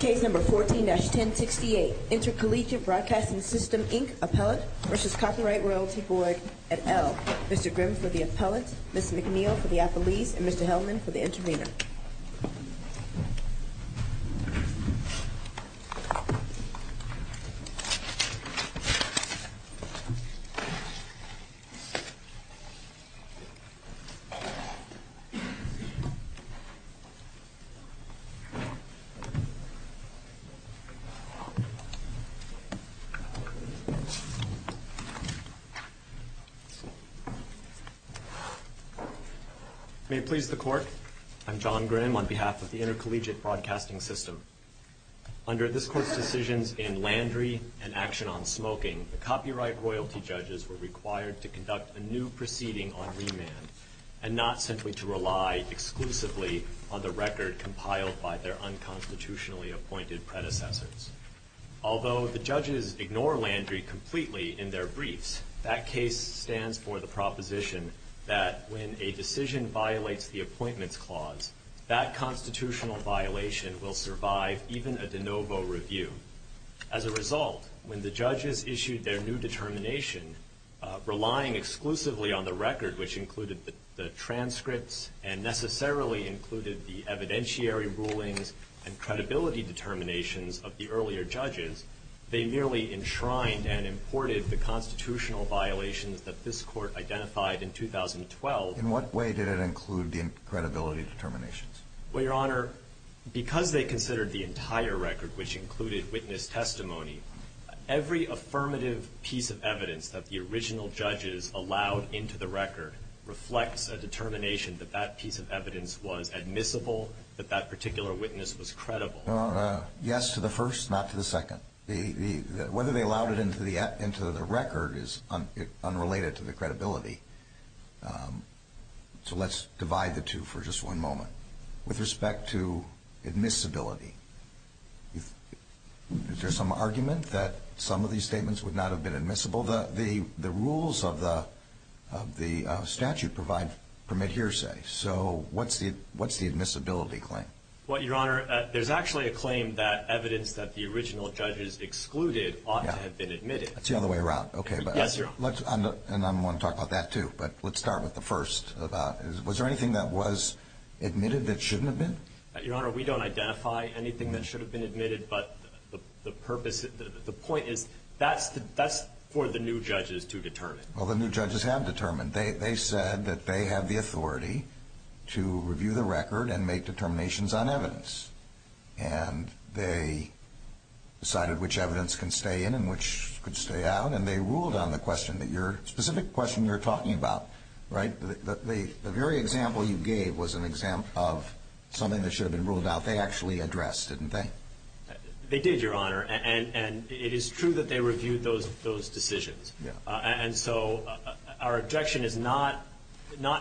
Case number 14-1068, Intercollegiate Broadcasting System, Inc., Appellant v. Copyright Royalty Board, et al. Mr. Grimm for the appellant, Ms. McNeil for the appellees, and Mr. Hellman for the intervener. May it please the Court, I'm John Grimm on behalf of the Intercollegiate Broadcasting System. Under this Court's decisions in Landry and Action on Smoking, the copyright royalty judges were required to conduct a new proceeding on remand, and not simply to rely exclusively on the record compiled by their unconstitutionally appointed predecessors. Although the judges ignore Landry completely in their briefs, that case stands for the proposition that when a decision violates the Appointments Clause, that constitutional violation will survive even a de novo review. As a result, when the judges issued their new determination, relying exclusively on the record which included the transcripts and necessarily included the evidentiary rulings and credibility determinations of the earlier judges, they merely enshrined and imported the constitutional violations that this Court identified in 2012. In what way did it include the credibility determinations? Well, Your Honor, because they considered the entire record, which included witness testimony, every affirmative piece of evidence that the original judges allowed into the record reflects a determination that that piece of evidence was admissible, that that particular witness was credible. Well, yes to the first, not to the second. Whether they allowed it into the record is unrelated to the credibility. So let's divide the two for just one moment. With respect to admissibility, is there some argument that some of these statements would not have been admissible? The rules of the statute provide permit hearsay. So what's the admissibility claim? Well, Your Honor, there's actually a claim that evidence that the original judges excluded ought to have been admitted. Yes, Your Honor. And I want to talk about that, too. But let's start with the first. Was there anything that was admitted that shouldn't have been? Your Honor, we don't identify anything that should have been admitted. But the point is that's for the new judges to determine. Well, the new judges have determined. They said that they have the authority to review the record and make determinations on evidence. And they decided which evidence can stay in and which could stay out. And they ruled on the question, the specific question you're talking about, right? The very example you gave was an example of something that should have been ruled out. They actually addressed, didn't they? They did, Your Honor. And it is true that they reviewed those decisions. And so our objection is not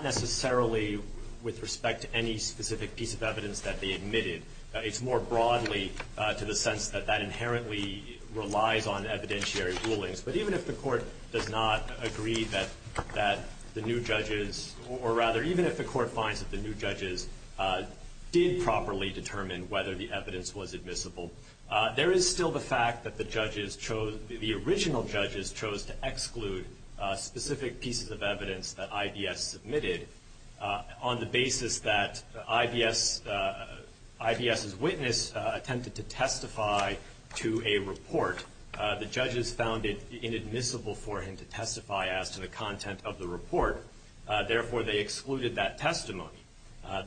necessarily with respect to any specific piece of evidence that they admitted. It's more broadly to the sense that that inherently relies on evidentiary rulings. But even if the Court does not agree that the new judges or, rather, even if the Court finds that the new judges did properly determine whether the evidence was admissible, there is still the fact that the judges chose, the original judges chose to exclude specific pieces of evidence that IBS submitted on the basis that IBS's witness attempted to testify to a report. The judges found it inadmissible for him to testify as to the content of the report. Therefore, they excluded that testimony.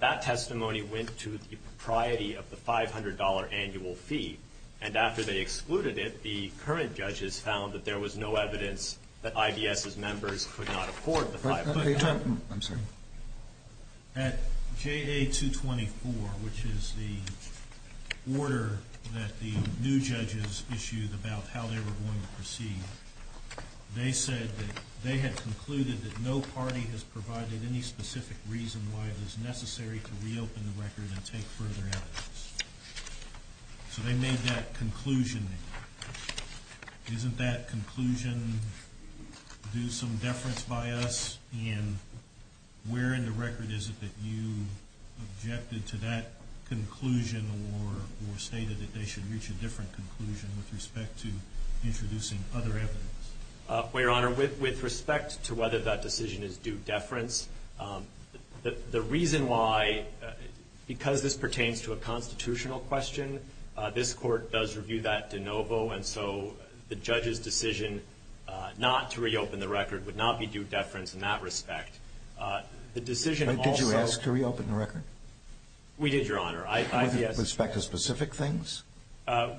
That testimony went to the propriety of the $500 annual fee. And after they excluded it, the current judges found that there was no evidence that IBS's members could not afford the $500. I'm sorry. At JA 224, which is the order that the new judges issued about how they were going to proceed, they said that they had concluded that no party has provided any specific reason why it is necessary to reopen the record and take further evidence. So they made that conclusion. Isn't that conclusion due some deference by us? And where in the record is it that you objected to that conclusion or stated that they should reach a different conclusion with respect to introducing other evidence? Well, Your Honor, with respect to whether that decision is due deference, the reason why, because this pertains to a constitutional question, this court does review that de novo, and so the judge's decision not to reopen the record would not be due deference in that respect. The decision also — Did you ask to reopen the record? We did, Your Honor. With respect to specific things?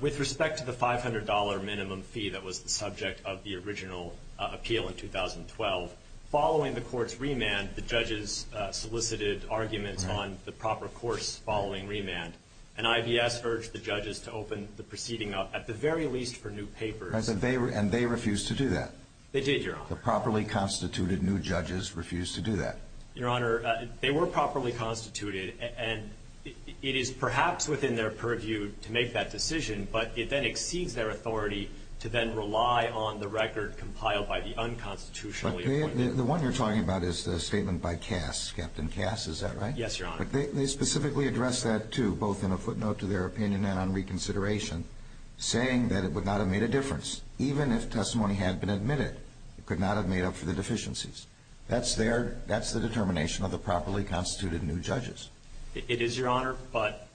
With respect to the $500 minimum fee that was the subject of the original appeal in 2012, following the court's remand, the judges solicited arguments on the proper course following remand. And IBS urged the judges to open the proceeding up, at the very least for new papers. And they refused to do that? They did, Your Honor. The properly constituted new judges refused to do that? Your Honor, they were properly constituted, and it is perhaps within their purview to make that decision, but it then exceeds their authority to then rely on the record compiled by the unconstitutionally appointed. The one you're talking about is the statement by Cass, Captain Cass. Is that right? Yes, Your Honor. But they specifically addressed that, too, both in a footnote to their opinion and on reconsideration, saying that it would not have made a difference. Even if testimony had been admitted, it could not have made up for the deficiencies. That's their — that's the determination of the properly constituted new judges. It is, Your Honor, but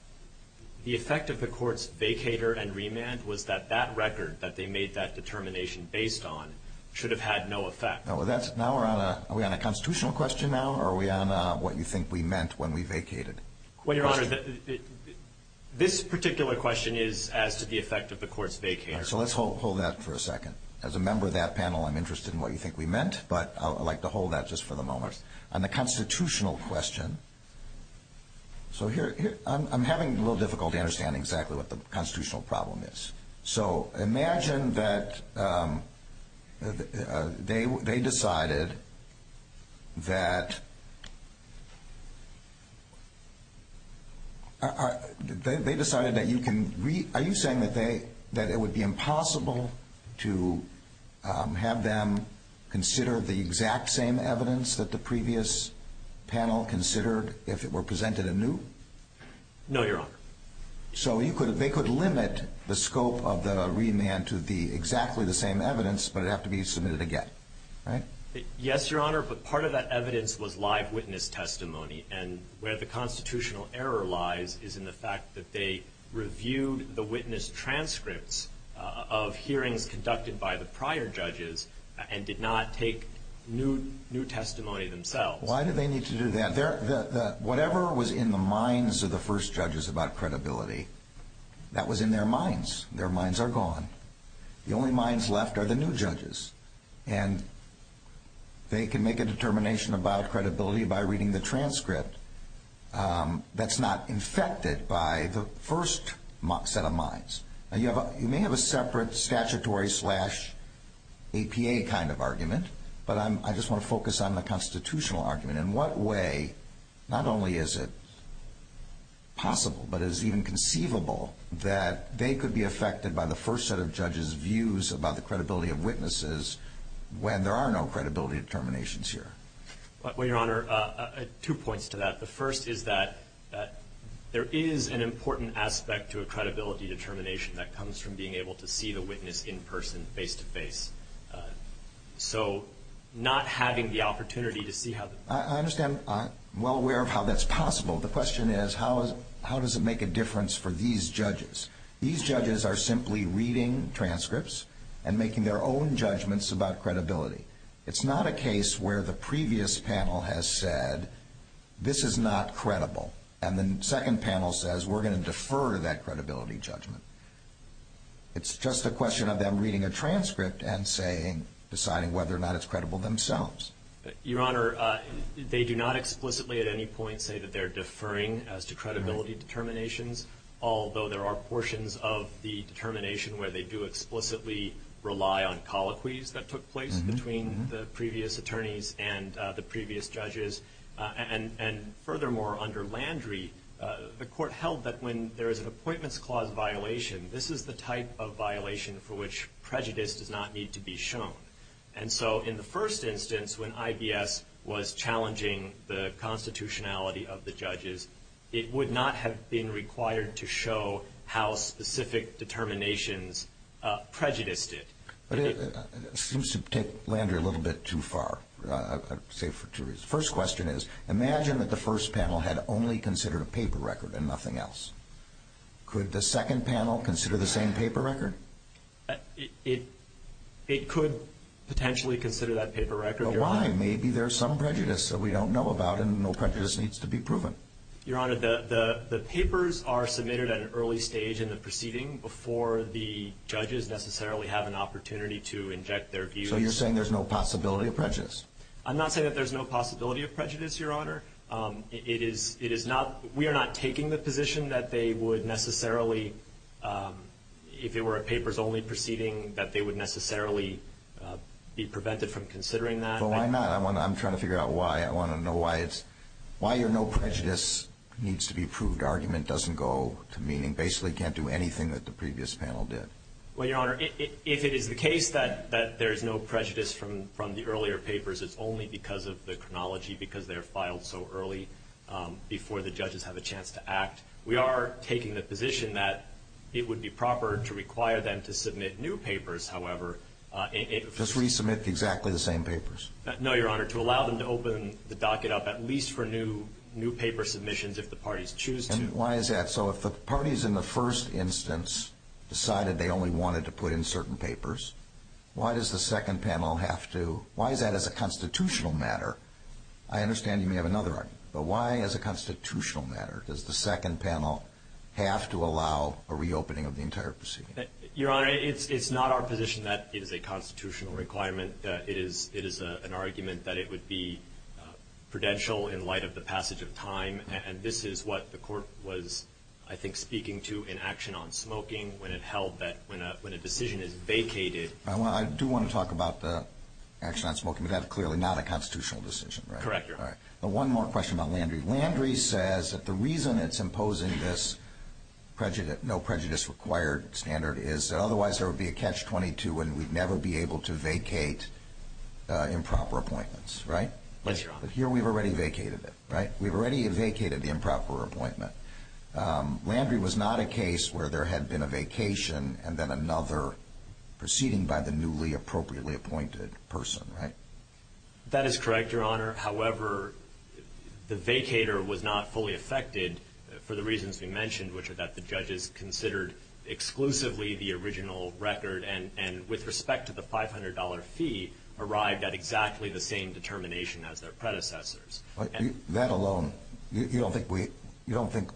the effect of the court's vacator and remand was that that record that they made that determination based on should have had no effect. Now we're on a — are we on a constitutional question now, or are we on what you think we meant when we vacated? Well, Your Honor, this particular question is as to the effect of the court's vacator. All right, so let's hold that for a second. As a member of that panel, I'm interested in what you think we meant, but I'd like to hold that just for the moment. On the constitutional question, so here — I'm having a little difficulty understanding exactly what the constitutional problem is. So imagine that they decided that — they decided that you can — are you saying that they — that it would be impossible to have them consider the exact same evidence that the previous panel considered if it were presented anew? No, Your Honor. So you could — they could limit the scope of the remand to the — exactly the same evidence, but it would have to be submitted again, right? Yes, Your Honor, but part of that evidence was live witness testimony, and where the constitutional error lies is in the fact that they reviewed the witness transcripts of hearings conducted by the prior judges and did not take new testimony themselves. Why did they need to do that? Whatever was in the minds of the first judges about credibility, that was in their minds. Their minds are gone. The only minds left are the new judges, and they can make a determination about credibility by reading the transcript that's not infected by the first set of minds. Now, you may have a separate statutory slash APA kind of argument, but I just want to focus on the constitutional argument. In what way, not only is it possible, but is it even conceivable that they could be affected by the first set of judges' views about the credibility of witnesses when there are no credibility determinations here? Well, Your Honor, two points to that. The first is that there is an important aspect to a credibility determination that comes from being able to see the witness in person, face-to-face. So not having the opportunity to see how the... I understand. I'm well aware of how that's possible. The question is, how does it make a difference for these judges? These judges are simply reading transcripts and making their own judgments about credibility. It's not a case where the previous panel has said, this is not credible, and the second panel says, we're going to defer that credibility judgment. It's just a question of them reading a transcript and deciding whether or not it's credible themselves. Your Honor, they do not explicitly at any point say that they're deferring as to credibility determinations, although there are portions of the determination where they do explicitly rely on colloquies that took place between the previous attorneys and the previous judges. And furthermore, under Landry, the Court held that when there is an appointments clause violation, this is the type of violation for which prejudice does not need to be shown. And so in the first instance, when IBS was challenging the constitutionality of the judges, it would not have been required to show how specific determinations prejudiced it. But it seems to take Landry a little bit too far, say, for two reasons. The first question is, imagine that the first panel had only considered a paper record and nothing else. Could the second panel consider the same paper record? It could potentially consider that paper record, Your Honor. But why? Maybe there's some prejudice that we don't know about and no prejudice needs to be proven. Your Honor, the papers are submitted at an early stage in the proceeding before the judges necessarily have an opportunity to inject their views. So you're saying there's no possibility of prejudice? I'm not saying that there's no possibility of prejudice, Your Honor. It is not – we are not taking the position that they would necessarily, if it were a papers-only proceeding, that they would necessarily be prevented from considering that. Well, why not? I'm trying to figure out why. I want to know why it's – why your no prejudice needs to be proved argument doesn't go to meaning, basically can't do anything that the previous panel did. Well, Your Honor, if it is the case that there's no prejudice from the earlier papers, it's only because of the chronology because they're filed so early before the judges have a chance to act. We are taking the position that it would be proper to require them to submit new papers, however. Just resubmit exactly the same papers? No, Your Honor, to allow them to open the docket up at least for new paper submissions if the parties choose to. Why is that? So if the parties in the first instance decided they only wanted to put in certain papers, why does the second panel have to – why is that as a constitutional matter? I understand you may have another argument, but why as a constitutional matter does the second panel have to allow a reopening of the entire proceeding? Your Honor, it's not our position that it is a constitutional requirement. It is an argument that it would be prudential in light of the passage of time, and this is what the court was, I think, speaking to in action on smoking when it held that when a decision is vacated. I do want to talk about the action on smoking, but that's clearly not a constitutional decision, right? Correct, Your Honor. All right. One more question about Landry. Landry says that the reason it's imposing this no prejudice required standard is that otherwise there would be a catch-22 and we'd never be able to vacate improper appointments, right? Yes, Your Honor. But here we've already vacated it, right? We've already vacated the improper appointment. Landry was not a case where there had been a vacation and then another proceeding by the newly appropriately appointed person, right? That is correct, Your Honor. However, the vacator was not fully affected for the reasons we mentioned, which are that the judges considered exclusively the original record and with respect to the $500 fee arrived at exactly the same determination as their predecessors. That alone, you don't think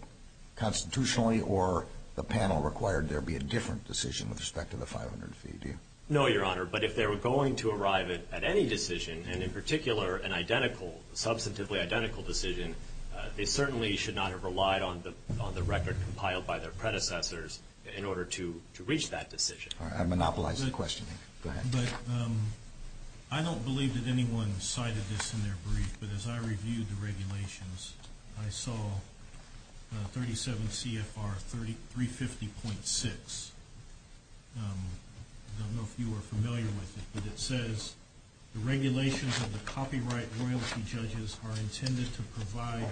constitutionally or the panel required there be a different decision with respect to the $500 fee, do you? No, Your Honor, but if they were going to arrive at any decision, and in particular an identically, substantively identical decision, they certainly should not have relied on the record compiled by their predecessors in order to reach that decision. All right. I've monopolized the question. Go ahead. I don't believe that anyone cited this in their brief, but as I reviewed the regulations, I saw 37 CFR 350.6. I don't know if you are familiar with it, but it says the regulations of the copyright royalty judges are intended to provide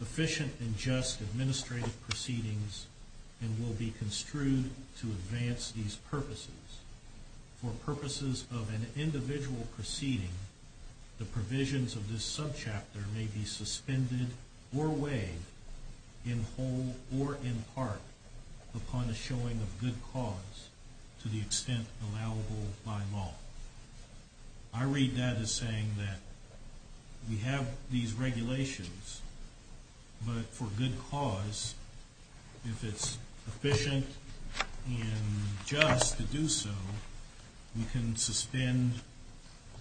efficient and just administrative proceedings and will be construed to advance these purposes. For purposes of an individual proceeding, the provisions of this subchapter may be suspended or weighed in whole or in part upon the showing of good cause to the extent allowable by law. I read that as saying that we have these regulations, but for good cause, if it's efficient and just to do so, we can suspend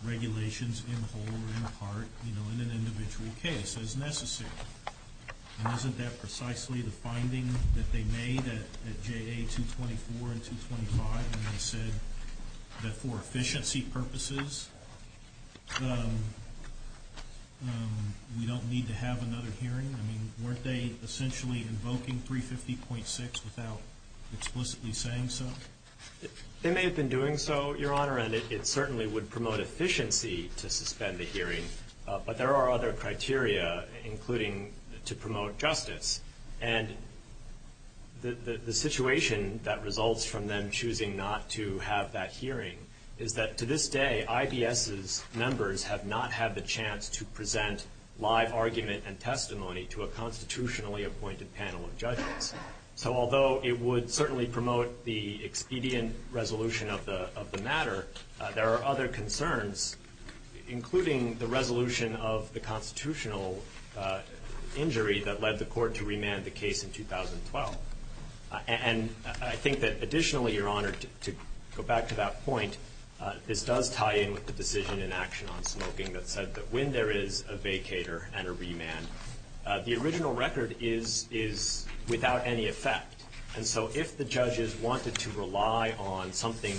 regulations in whole or in part in an individual case as necessary. Isn't that precisely the finding that they made at JA 224 and 225 when they said that for efficiency purposes, we don't need to have another hearing? I mean, weren't they essentially invoking 350.6 without explicitly saying so? They may have been doing so, Your Honor, and it certainly would promote efficiency to suspend the hearing, but there are other criteria, including to promote justice, and the situation that results from them choosing not to have that hearing is that to this day, IBS's members have not had the chance to present live argument and testimony to a constitutionally appointed panel of judges. So although it would certainly promote the expedient resolution of the matter, there are other concerns, including the resolution of the constitutional injury that led the court to remand the case in 2012. And I think that additionally, Your Honor, to go back to that point, this does tie in with the decision in action on smoking that said that when there is a vacator and a remand, the original record is without any effect. And so if the judges wanted to rely on something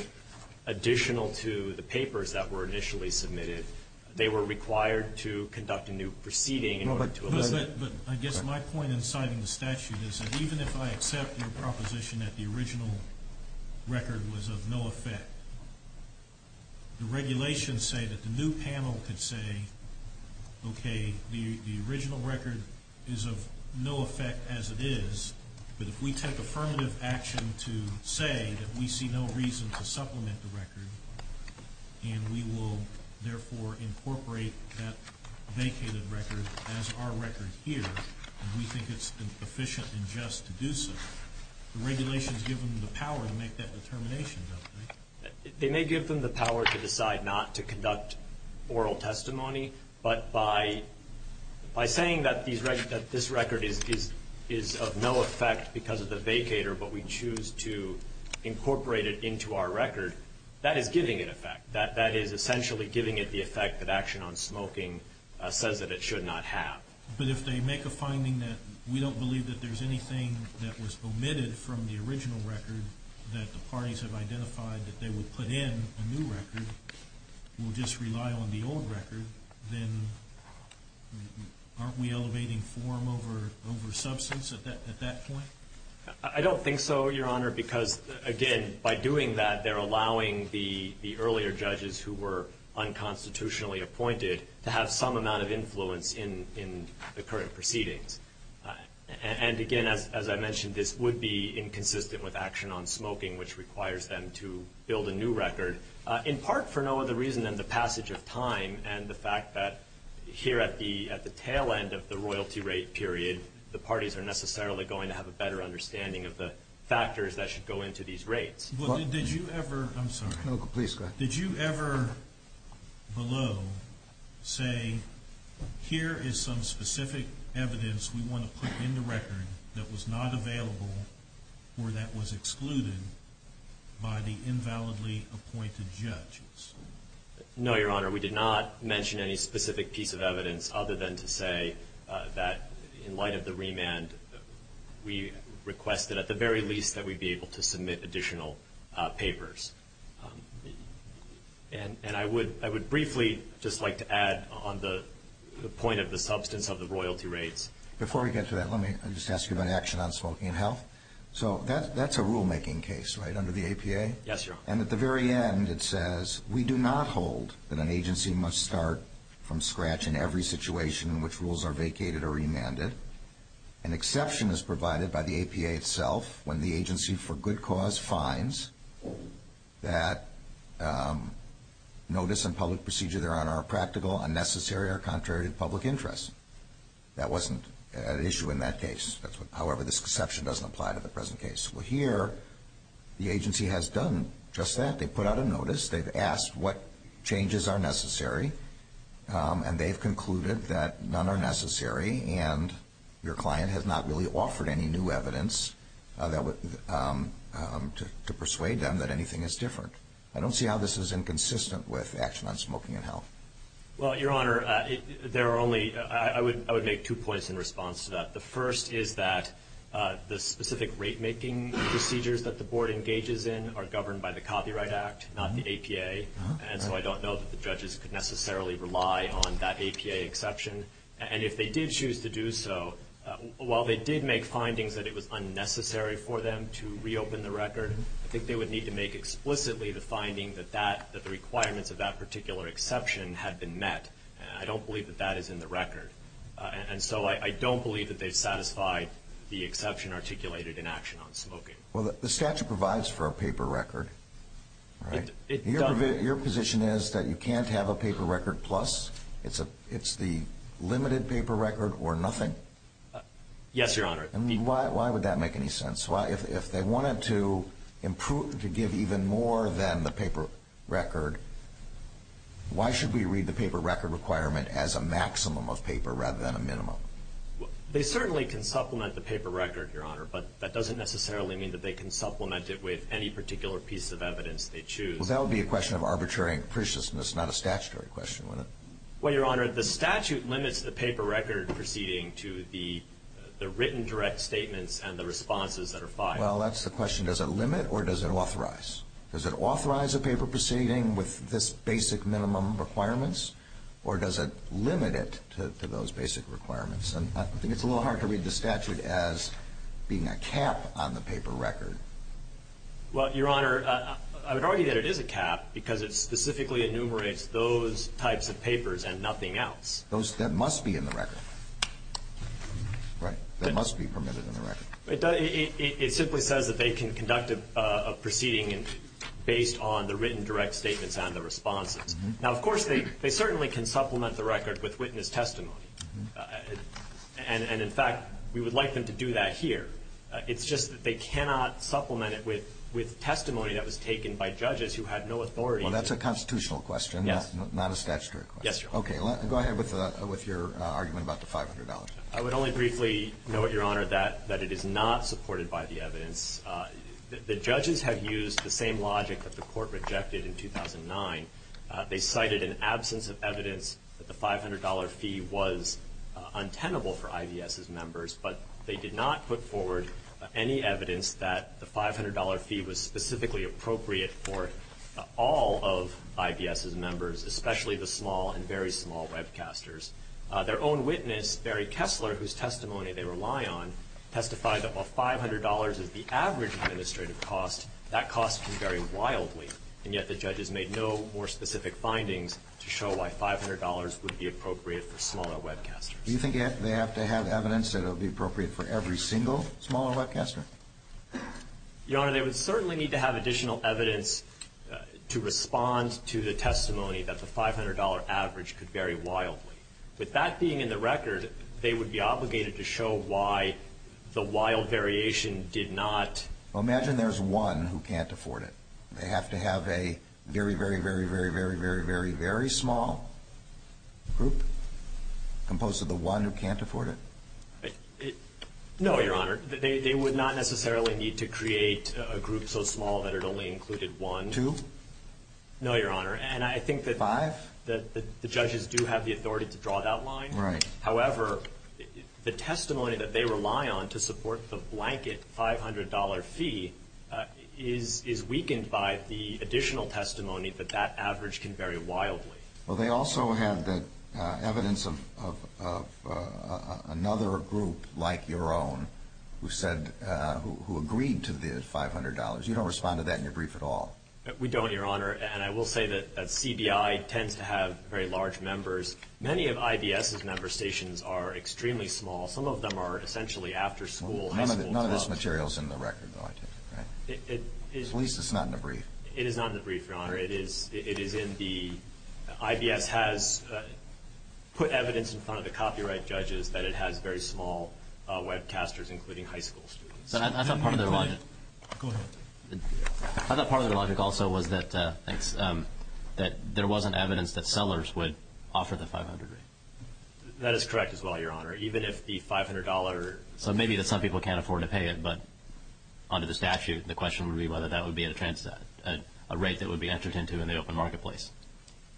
additional to the papers that were initially submitted, they were required to conduct a new proceeding in order to elicit it. But I guess my point in citing the statute is that even if I accept your proposition that the original record was of no effect, the regulations say that the new panel could say, okay, the original record is of no effect as it is, but if we take affirmative action to say that we see no reason to supplement the record, and we will therefore incorporate that vacated record as our record here, and we think it's efficient and just to do so, the regulations give them the power to make that determination, don't they? They may give them the power to decide not to conduct oral testimony, but by saying that this record is of no effect because of the vacator, but we choose to incorporate it into our record, that is giving it effect. That is essentially giving it the effect that action on smoking says that it should not have. But if they make a finding that we don't believe that there's anything that was omitted from the original record, that the parties have identified that they would put in a new record, we'll just rely on the old record, then aren't we elevating form over substance at that point? I don't think so, Your Honor, because, again, by doing that, they're allowing the earlier judges who were unconstitutionally appointed to have some amount of influence in the current proceedings. And, again, as I mentioned, this would be inconsistent with action on smoking, which requires them to build a new record, in part for no other reason than the passage of time and the fact that here at the tail end of the royalty rate period, the parties are necessarily going to have a better understanding of the factors that should go into these rates. But did you ever – I'm sorry. No, please, go ahead. Did you ever below say here is some specific evidence we want to put in the record that was not available or that was excluded by the invalidly appointed judges? No, Your Honor. We did not mention any specific piece of evidence other than to say that in light of the remand, we request that at the very least that we be able to submit additional papers. And I would briefly just like to add on the point of the substance of the royalty rates. Before we get to that, let me just ask you about action on smoking and health. So that's a rulemaking case, right, under the APA? Yes, Your Honor. And at the very end, it says we do not hold that an agency must start from scratch in every situation in which rules are vacated or remanded. An exception is provided by the APA itself when the agency for good cause finds that notice and public procedure, Your Honor, are practical, unnecessary, or contrary to public interest. That wasn't an issue in that case. However, this exception doesn't apply to the present case. Well, here, the agency has done just that. They put out a notice. They've asked what changes are necessary, and they've concluded that none are necessary, and your client has not really offered any new evidence to persuade them that anything is different. I don't see how this is inconsistent with action on smoking and health. Well, Your Honor, there are only – I would make two points in response to that. The first is that the specific rate-making procedures that the Board engages in are governed by the Copyright Act, not the APA, and so I don't know that the judges could necessarily rely on that APA exception. And if they did choose to do so, while they did make findings that it was unnecessary for them to reopen the record, I think they would need to make explicitly the finding that the requirements of that particular exception had been met. I don't believe that that is in the record. And so I don't believe that they've satisfied the exception articulated in action on smoking. Well, the statute provides for a paper record, right? Your position is that you can't have a paper record plus? It's the limited paper record or nothing? Yes, Your Honor. And why would that make any sense? If they wanted to improve – to give even more than the paper record, why should we read the paper record requirement as a maximum of paper rather than a minimum? They certainly can supplement the paper record, Your Honor, but that doesn't necessarily mean that they can supplement it with any particular piece of evidence they choose. Well, that would be a question of arbitrary and capriciousness, not a statutory question, wouldn't it? Well, Your Honor, the statute limits the paper record proceeding to the written direct statements and the responses that are filed. Well, that's the question. Does it limit or does it authorize? Does it authorize a paper proceeding with this basic minimum requirements or does it limit it to those basic requirements? And I think it's a little hard to read the statute as being a cap on the paper record. Well, Your Honor, I would argue that it is a cap because it specifically enumerates those types of papers and nothing else. That must be in the record, right? That must be permitted in the record. It simply says that they can conduct a proceeding based on the written direct statements and the responses. Now, of course, they certainly can supplement the record with witness testimony. And, in fact, we would like them to do that here. It's just that they cannot supplement it with testimony that was taken by judges who had no authority. Well, that's a constitutional question, not a statutory question. Yes, Your Honor. Okay. Go ahead with your argument about the $500. I would only briefly note, Your Honor, that it is not supported by the evidence. The judges have used the same logic that the court rejected in 2009. They cited an absence of evidence that the $500 fee was untenable for IBS's members, but they did not put forward any evidence that the $500 fee was specifically appropriate for all of IBS's members, especially the small and very small webcasters. Their own witness, Barry Kessler, whose testimony they rely on, testified that while $500 is the average administrative cost, that cost can vary wildly. And yet the judges made no more specific findings to show why $500 would be appropriate for smaller webcasters. Do you think they have to have evidence that it would be appropriate for every single smaller webcaster? Your Honor, they would certainly need to have additional evidence to respond to the testimony that the $500 average could vary wildly. With that being in the record, they would be obligated to show why the wild variation did not. Well, imagine there's one who can't afford it. They have to have a very, very, very, very, very, very, very, very small group composed of the one who can't afford it. No, Your Honor. They would not necessarily need to create a group so small that it only included one. Two? No, Your Honor. Five? And I think that the judges do have the authority to draw that line. Right. However, the testimony that they rely on to support the blanket $500 fee is weakened by the additional testimony that that average can vary wildly. Well, they also have evidence of another group like your own who agreed to the $500. You don't respond to that in your brief at all. We don't, Your Honor. And I will say that CBI tends to have very large members. Many of IBS's member stations are extremely small. Some of them are essentially after school. None of this material is in the record, though, I take it, right? At least it's not in the brief. It is not in the brief, Your Honor. It is in the – IBS has put evidence in front of the copyright judges that it has very small webcasters, including high school students. Go ahead. I thought part of the logic also was that there wasn't evidence that sellers would offer the $500 rate. That is correct as well, Your Honor, even if the $500 – So maybe that some people can't afford to pay it, but under the statute, the question would be whether that would be a rate that would be entered into in the open marketplace.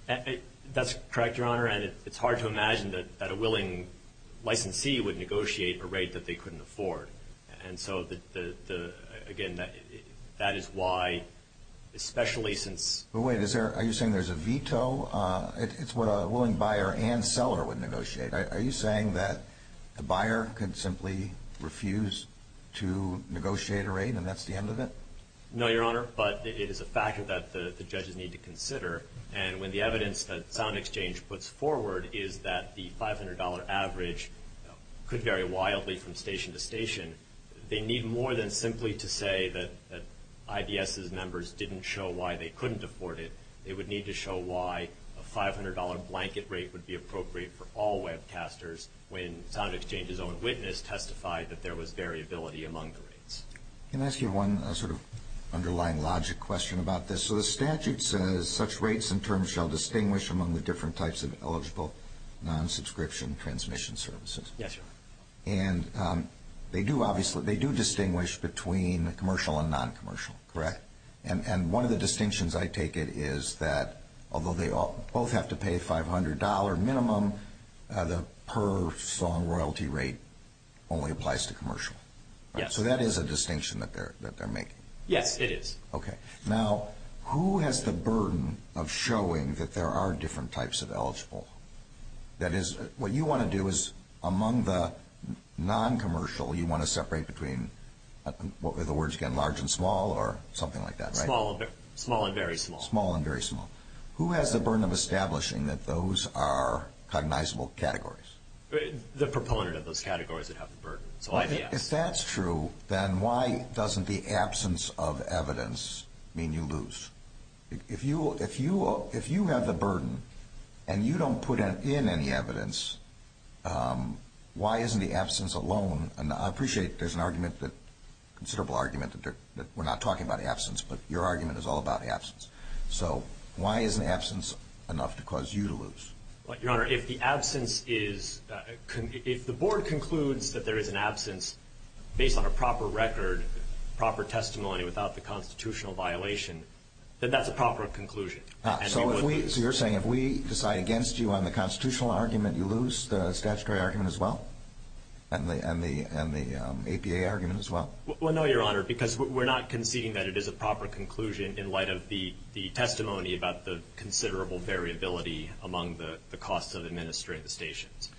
That's correct, Your Honor, and it's hard to imagine that a willing licensee would negotiate a rate that they couldn't afford. And so, again, that is why, especially since – But wait, is there – are you saying there's a veto? It's what a willing buyer and seller would negotiate. Are you saying that the buyer could simply refuse to negotiate a rate and that's the end of it? No, Your Honor, but it is a fact that the judges need to consider. And when the evidence that SoundExchange puts forward is that the $500 average could vary wildly from station to station, they need more than simply to say that IBS's members didn't show why they couldn't afford it. They would need to show why a $500 blanket rate would be appropriate for all webcasters when SoundExchange's own witness testified that there was variability among the rates. Can I ask you one sort of underlying logic question about this? So the statute says such rates and terms shall distinguish among the different types of eligible non-subscription transmission services. Yes, Your Honor. And they do distinguish between commercial and non-commercial, correct? And one of the distinctions, I take it, is that although they both have to pay $500 minimum, the per-song royalty rate only applies to commercial. Yes. So that is a distinction that they're making. Yes, it is. Okay. Now, who has the burden of showing that there are different types of eligible? That is, what you want to do is among the non-commercial, you want to separate between, what were the words again, large and small or something like that, right? Small and very small. Small and very small. Who has the burden of establishing that those are cognizable categories? The proponent of those categories that have the burden. So IBS. If that's true, then why doesn't the absence of evidence mean you lose? If you have the burden and you don't put in any evidence, why isn't the absence alone, and I appreciate there's a considerable argument that we're not talking about absence, but your argument is all about absence. So why isn't absence enough to cause you to lose? Your Honor, if the absence is, if the board concludes that there is an absence based on a proper record, proper testimony without the constitutional violation, then that's a proper conclusion. So you're saying if we decide against you on the constitutional argument, you lose the statutory argument as well? And the APA argument as well? Well, no, Your Honor, because we're not conceding that it is a proper conclusion in light of the testimony about the considerable variability among the costs of administrating the stations.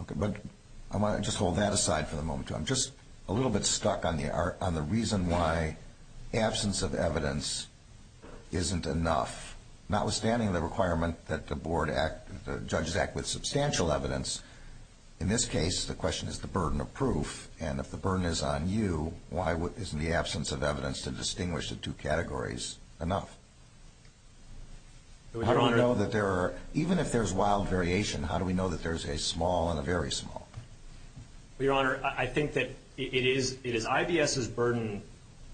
Okay, but I want to just hold that aside for the moment. I'm just a little bit stuck on the reason why absence of evidence isn't enough. Notwithstanding the requirement that the board act, the judges act with substantial evidence, in this case the question is the burden of proof, and if the burden is on you, why isn't the absence of evidence to distinguish the two categories enough? Even if there's wild variation, how do we know that there's a small and a very small? Well, Your Honor, I think that it is IBS's burden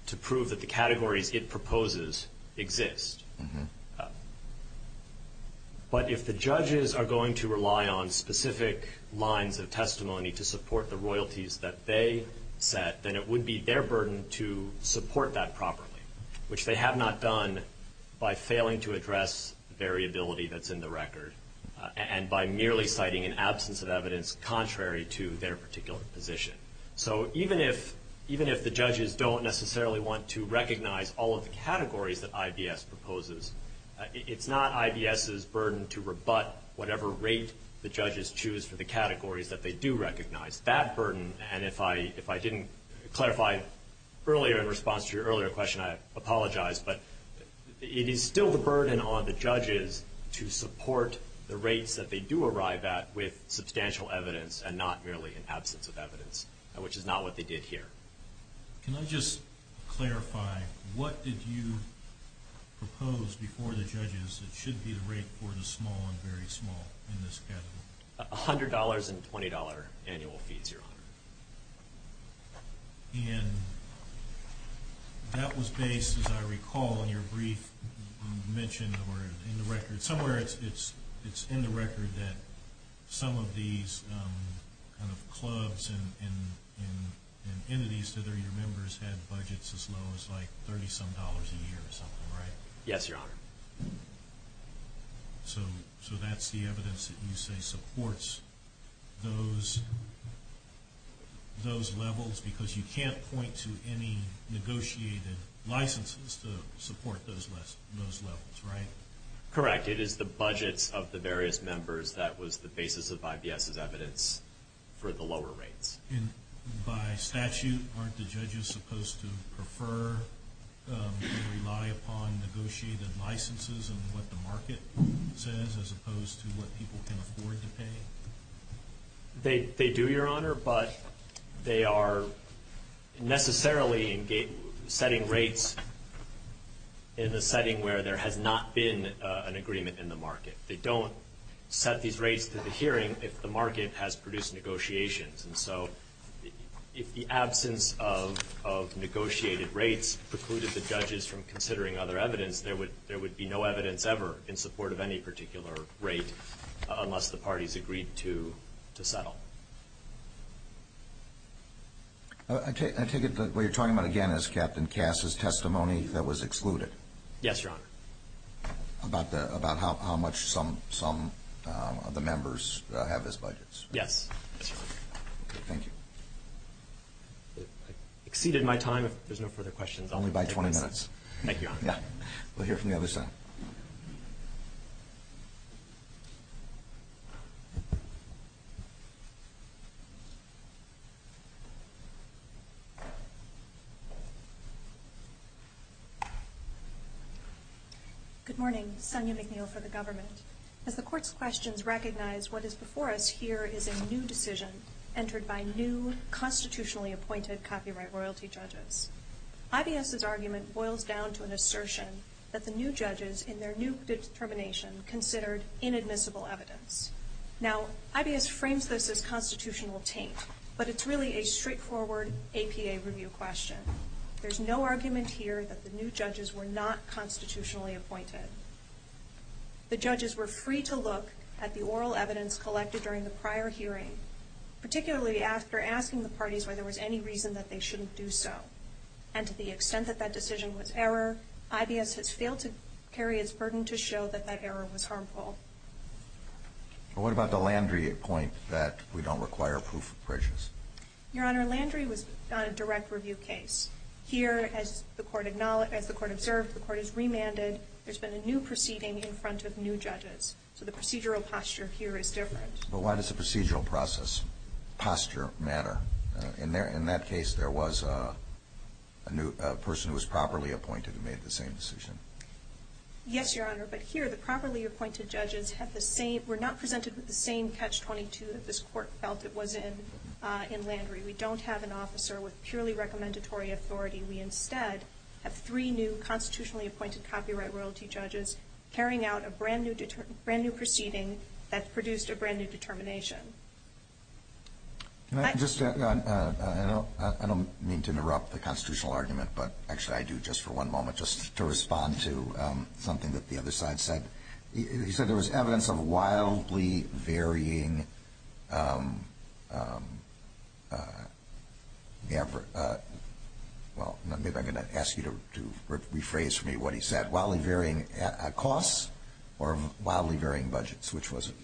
to prove that the categories it proposes exist. But if the judges are going to rely on specific lines of testimony to support the royalties that they set, then it would be their burden to support that properly, which they have not done by failing to address variability that's in the record and by merely citing an absence of evidence contrary to their particular position. So even if the judges don't necessarily want to recognize all of the categories that IBS proposes, it's not IBS's burden to rebut whatever rate the judges choose for the categories that they do recognize. It's that burden, and if I didn't clarify earlier in response to your earlier question, I apologize, but it is still the burden on the judges to support the rates that they do arrive at with substantial evidence and not merely an absence of evidence, which is not what they did here. Can I just clarify, what did you propose before the judges that should be the rate for the small and very small in this category? $100 and $20 annual fees, Your Honor. And that was based, as I recall in your brief mention, or in the record, somewhere it's in the record that some of these clubs and entities that are your members have budgets as low as like $30 some dollars a year or something, right? Yes, Your Honor. So that's the evidence that you say supports those levels because you can't point to any negotiated licenses to support those levels, right? Correct. It is the budgets of the various members that was the basis of IBS's evidence for the lower rates. And by statute, aren't the judges supposed to prefer or rely upon negotiated licenses in what the market says as opposed to what people can afford to pay? They do, Your Honor, but they are necessarily setting rates in the setting where there has not been an agreement in the market. They don't set these rates to the hearing if the market has produced negotiations. And so if the absence of negotiated rates precluded the judges from considering other evidence, there would be no evidence ever in support of any particular rate unless the parties agreed to settle. I take it that what you're talking about again is Captain Cass' testimony that was excluded. Yes, Your Honor. About how much some of the members have as budgets. Yes, that's right. Thank you. I've exceeded my time. If there's no further questions, I'll take questions. Only by 20 minutes. Thank you, Your Honor. We'll hear from the other side. Good morning. Sonya McNeil for the government. As the court's questions recognize, what is before us here is a new decision entered by new constitutionally appointed copyright royalty judges. IBS's argument boils down to an assertion that the new judges in their new determination considered inadmissible evidence. Now, IBS frames this as constitutional taint, but it's really a straightforward APA review question. There's no argument here that the new judges were not constitutionally appointed. The judges were free to look at the oral evidence collected during the prior hearing, particularly after asking the parties whether there was any reason that they shouldn't do so. And to the extent that that decision was error, IBS has failed to carry its burden to show that that error was harmful. What about the Landry point that we don't require proof of prejudice? Your Honor, Landry was on a direct review case. Here, as the court observed, the court has remanded. There's been a new proceeding in front of new judges. So the procedural posture here is different. But why does the procedural posture matter? In that case, there was a person who was properly appointed who made the same decision. Yes, Your Honor, but here the properly appointed judges were not presented with the same catch-22 that this court felt it was in Landry. We don't have an officer with purely recommendatory authority. We instead have three new constitutionally appointed copyright royalty judges carrying out a brand-new proceeding that produced a brand-new determination. Can I just add? I don't mean to interrupt the constitutional argument, but actually I do just for one moment just to respond to something that the other side said. He said there was evidence of wildly varying, well, maybe I'm going to ask you to rephrase for me what he said, wildly varying costs or wildly varying budgets, which was it?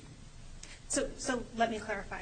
So let me clarify.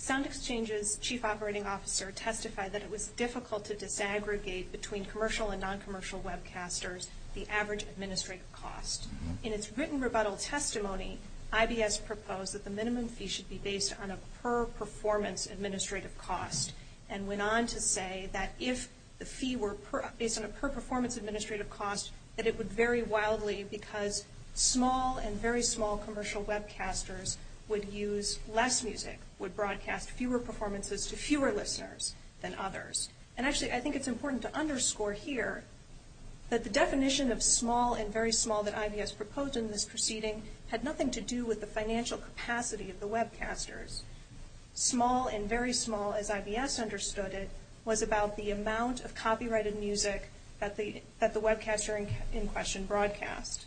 Sound Exchange's chief operating officer testified that it was difficult to disaggregate between commercial and non-commercial webcasters the average administrative cost. In its written rebuttal testimony, IBS proposed that the minimum fee should be based on a per-performance administrative cost and went on to say that if the fee were based on a per-performance administrative cost, that it would vary wildly because small and very small commercial webcasters would use less music, would broadcast fewer performances to fewer listeners than others. And actually I think it's important to underscore here that the definition of small and very small that IBS proposed in this proceeding had nothing to do with the financial capacity of the webcasters. Small and very small, as IBS understood it, was about the amount of copyrighted music that the webcaster in question broadcast.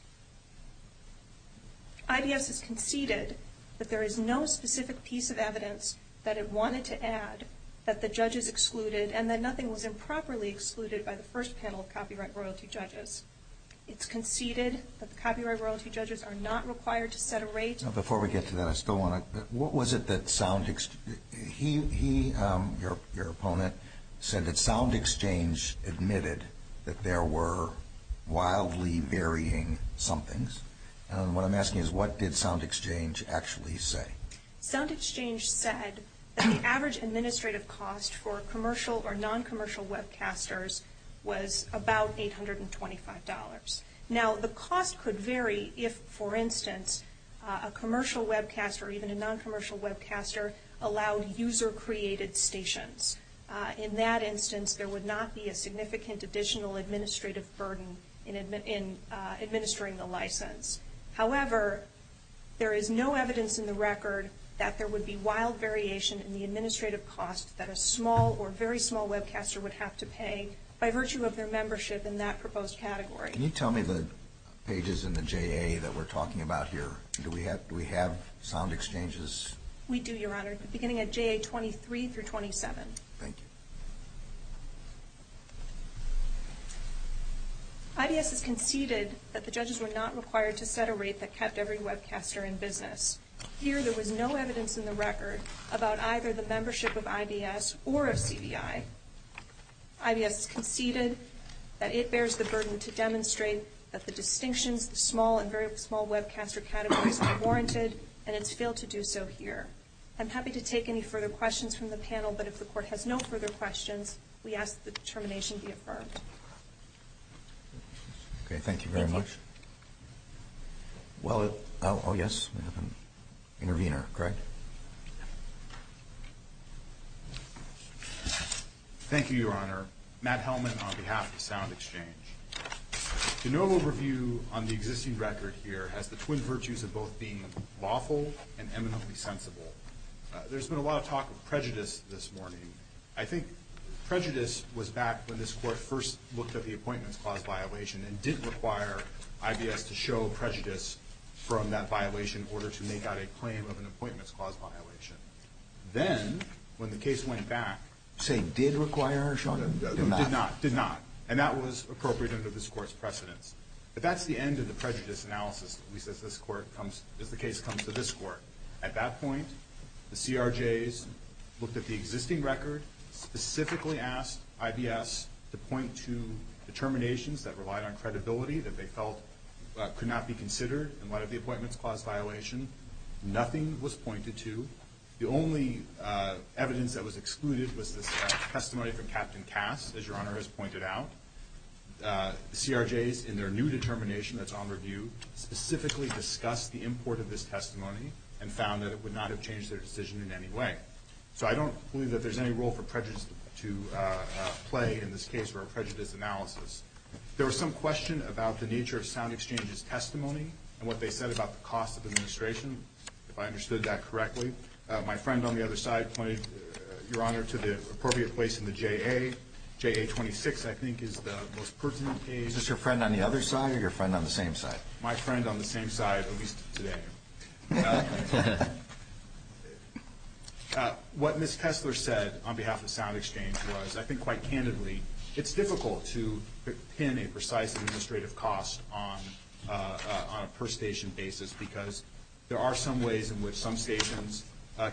IBS has conceded that there is no specific piece of evidence that it wanted to add that the judges excluded and that nothing was improperly excluded by the first panel of copyright royalty judges. It's conceded that the copyright royalty judges are not required to set a rate. Now before we get to that, I still want to, what was it that Sound, he, your opponent, said that Sound Exchange admitted that there were wildly varying somethings. And what I'm asking is what did Sound Exchange actually say? Sound Exchange said that the average administrative cost for commercial or non-commercial webcasters was about $825. Now the cost could vary if, for instance, a commercial webcaster or even a non-commercial webcaster allowed user-created stations. In that instance, there would not be a significant additional administrative burden in administering the license. However, there is no evidence in the record that there would be wild variation in the administrative cost that a small or very small webcaster would have to pay by virtue of their membership in that proposed category. Can you tell me the pages in the JA that we're talking about here? Do we have Sound Exchanges? We do, Your Honor, beginning at JA 23 through 27. Thank you. IBS has conceded that the judges were not required to set a rate that kept every webcaster in business. Here, there was no evidence in the record about either the membership of IBS or of CVI. IBS conceded that it bears the burden to demonstrate that the distinctions, the small and very small webcaster categories are warranted, and it's failed to do so here. I'm happy to take any further questions from the panel, but if the Court has no further questions, we ask that the determination be affirmed. Okay, thank you very much. Well, oh, yes, we have an intervener. Greg? Thank you, Your Honor. Matt Hellman on behalf of Sound Exchange. The normal review on the existing record here has the twin virtues of both being lawful and eminently sensible. There's been a lot of talk of prejudice this morning. I think prejudice was back when this Court first looked at the Appointments Clause violation and didn't require IBS to show prejudice from that violation in order to make out a claim of an Appointments Clause violation. Then, when the case went back — You're saying did require, Your Honor? No, did not. Did not. And that was appropriate under this Court's precedence. But that's the end of the prejudice analysis, at least as the case comes to this Court. At that point, the CRJs looked at the existing record, specifically asked IBS to point to determinations that relied on credibility that they felt could not be considered in light of the Appointments Clause violation. Nothing was pointed to. The only evidence that was excluded was this testimony from Captain Cass, as Your Honor has pointed out. The CRJs, in their new determination that's on review, specifically discussed the import of this testimony and found that it would not have changed their decision in any way. So I don't believe that there's any role for prejudice to play in this case or a prejudice analysis. There was some question about the nature of Sound Exchange's testimony and what they said about the cost of administration, if I understood that correctly. My friend on the other side pointed, Your Honor, to the appropriate place in the JA. JA 26, I think, is the most pertinent case. Is this your friend on the other side or your friend on the same side? My friend on the same side, at least today. What Ms. Tesler said on behalf of Sound Exchange was, I think quite candidly, it's difficult to pin a precise administrative cost on a per-station basis because there are some ways in which some stations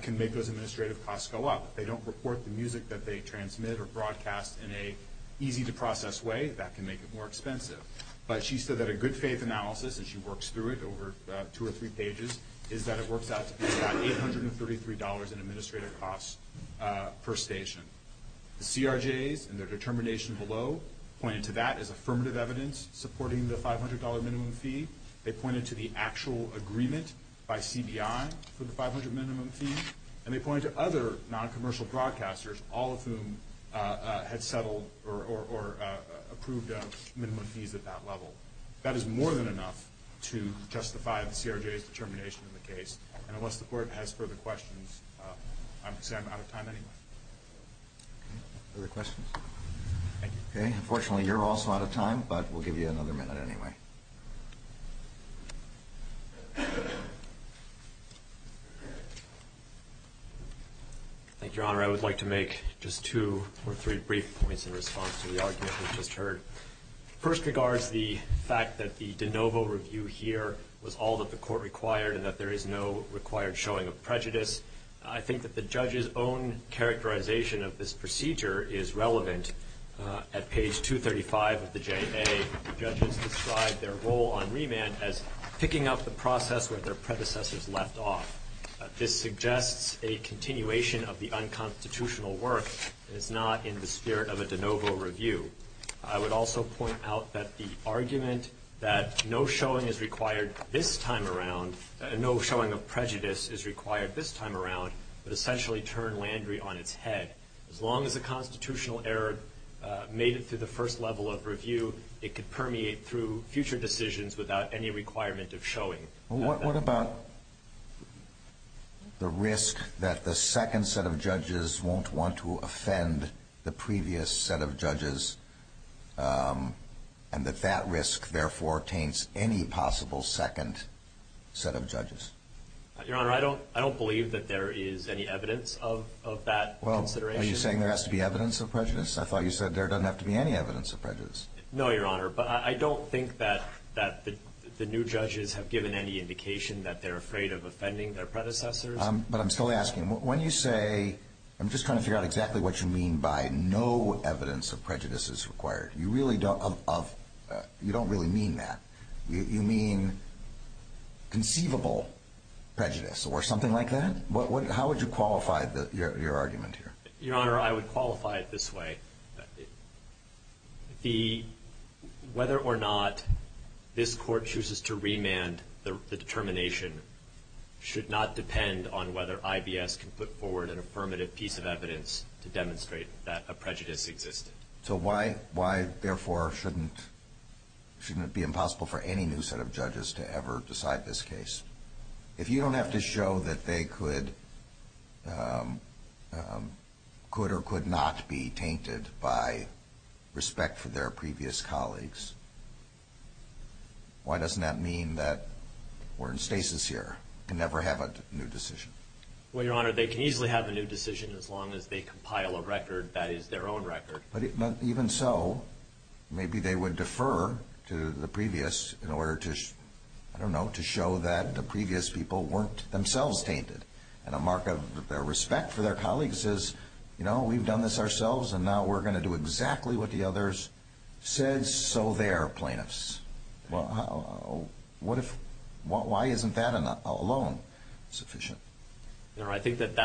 can make those administrative costs go up. If they don't report the music that they transmit or broadcast in an easy-to-process way, that can make it more expensive. But she said that a good-faith analysis, and she works through it over two or three pages, is that it works out to be about $833 in administrative costs per station. The CRJs, in their determination below, pointed to that as affirmative evidence, supporting the $500 minimum fee. They pointed to the actual agreement by CBI for the $500 minimum fee. And they pointed to other non-commercial broadcasters, all of whom had settled or approved minimum fees at that level. That is more than enough to justify the CRJ's determination in the case. And unless the Court has further questions, I'm out of time anyway. Other questions? Thank you. Okay. Unfortunately, you're also out of time, but we'll give you another minute anyway. Thank you, Your Honor. I would like to make just two or three brief points in response to the argument we've just heard. First regards the fact that the de novo review here was all that the Court required I think that the judge's own characterization of this procedure is relevant. At page 235 of the J.A., the judges describe their role on remand as picking up the process where their predecessors left off. This suggests a continuation of the unconstitutional work is not in the spirit of a de novo review. I would also point out that the argument that no showing is required this time around, would essentially turn Landry on its head. As long as a constitutional error made it through the first level of review, it could permeate through future decisions without any requirement of showing. What about the risk that the second set of judges won't want to offend the previous set of judges and that that risk, therefore, taints any possible second set of judges? Your Honor, I don't believe that there is any evidence of that consideration. Well, are you saying there has to be evidence of prejudice? I thought you said there doesn't have to be any evidence of prejudice. No, Your Honor, but I don't think that the new judges have given any indication that they're afraid of offending their predecessors. But I'm still asking, when you say, I'm just trying to figure out exactly what you mean by no evidence of prejudice is required, you really don't, you don't really mean that. You mean conceivable prejudice or something like that? How would you qualify your argument here? Your Honor, I would qualify it this way. Whether or not this Court chooses to remand the determination should not depend on whether IBS can put forward an affirmative piece of evidence to demonstrate that a prejudice existed. So why, therefore, shouldn't it be impossible for any new set of judges to ever decide this case? If you don't have to show that they could or could not be tainted by respect for their previous colleagues, why doesn't that mean that we're in stasis here and never have a new decision? Well, Your Honor, they can easily have a new decision as long as they compile a record that is their own record. But even so, maybe they would defer to the previous in order to, I don't know, to show that the previous people weren't themselves tainted. And a mark of their respect for their colleagues is, you know, we've done this ourselves and now we're going to do exactly what the others said, so they are plaintiffs. Why isn't that alone sufficient? Your Honor, I think that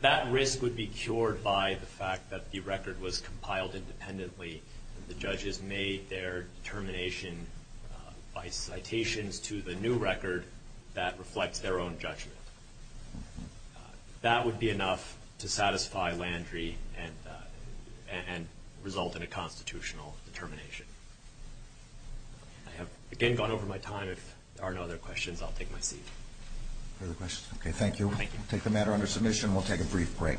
that risk would be cured by the fact that the record was compiled independently and the judges made their determination by citations to the new record that reflects their own judgment. That would be enough to satisfy Landry and result in a constitutional determination. I have, again, gone over my time. If there are no other questions, I'll take my seat. Further questions? Okay, thank you. Thank you. We'll take the matter under submission and we'll take a brief break before the court is adjourned.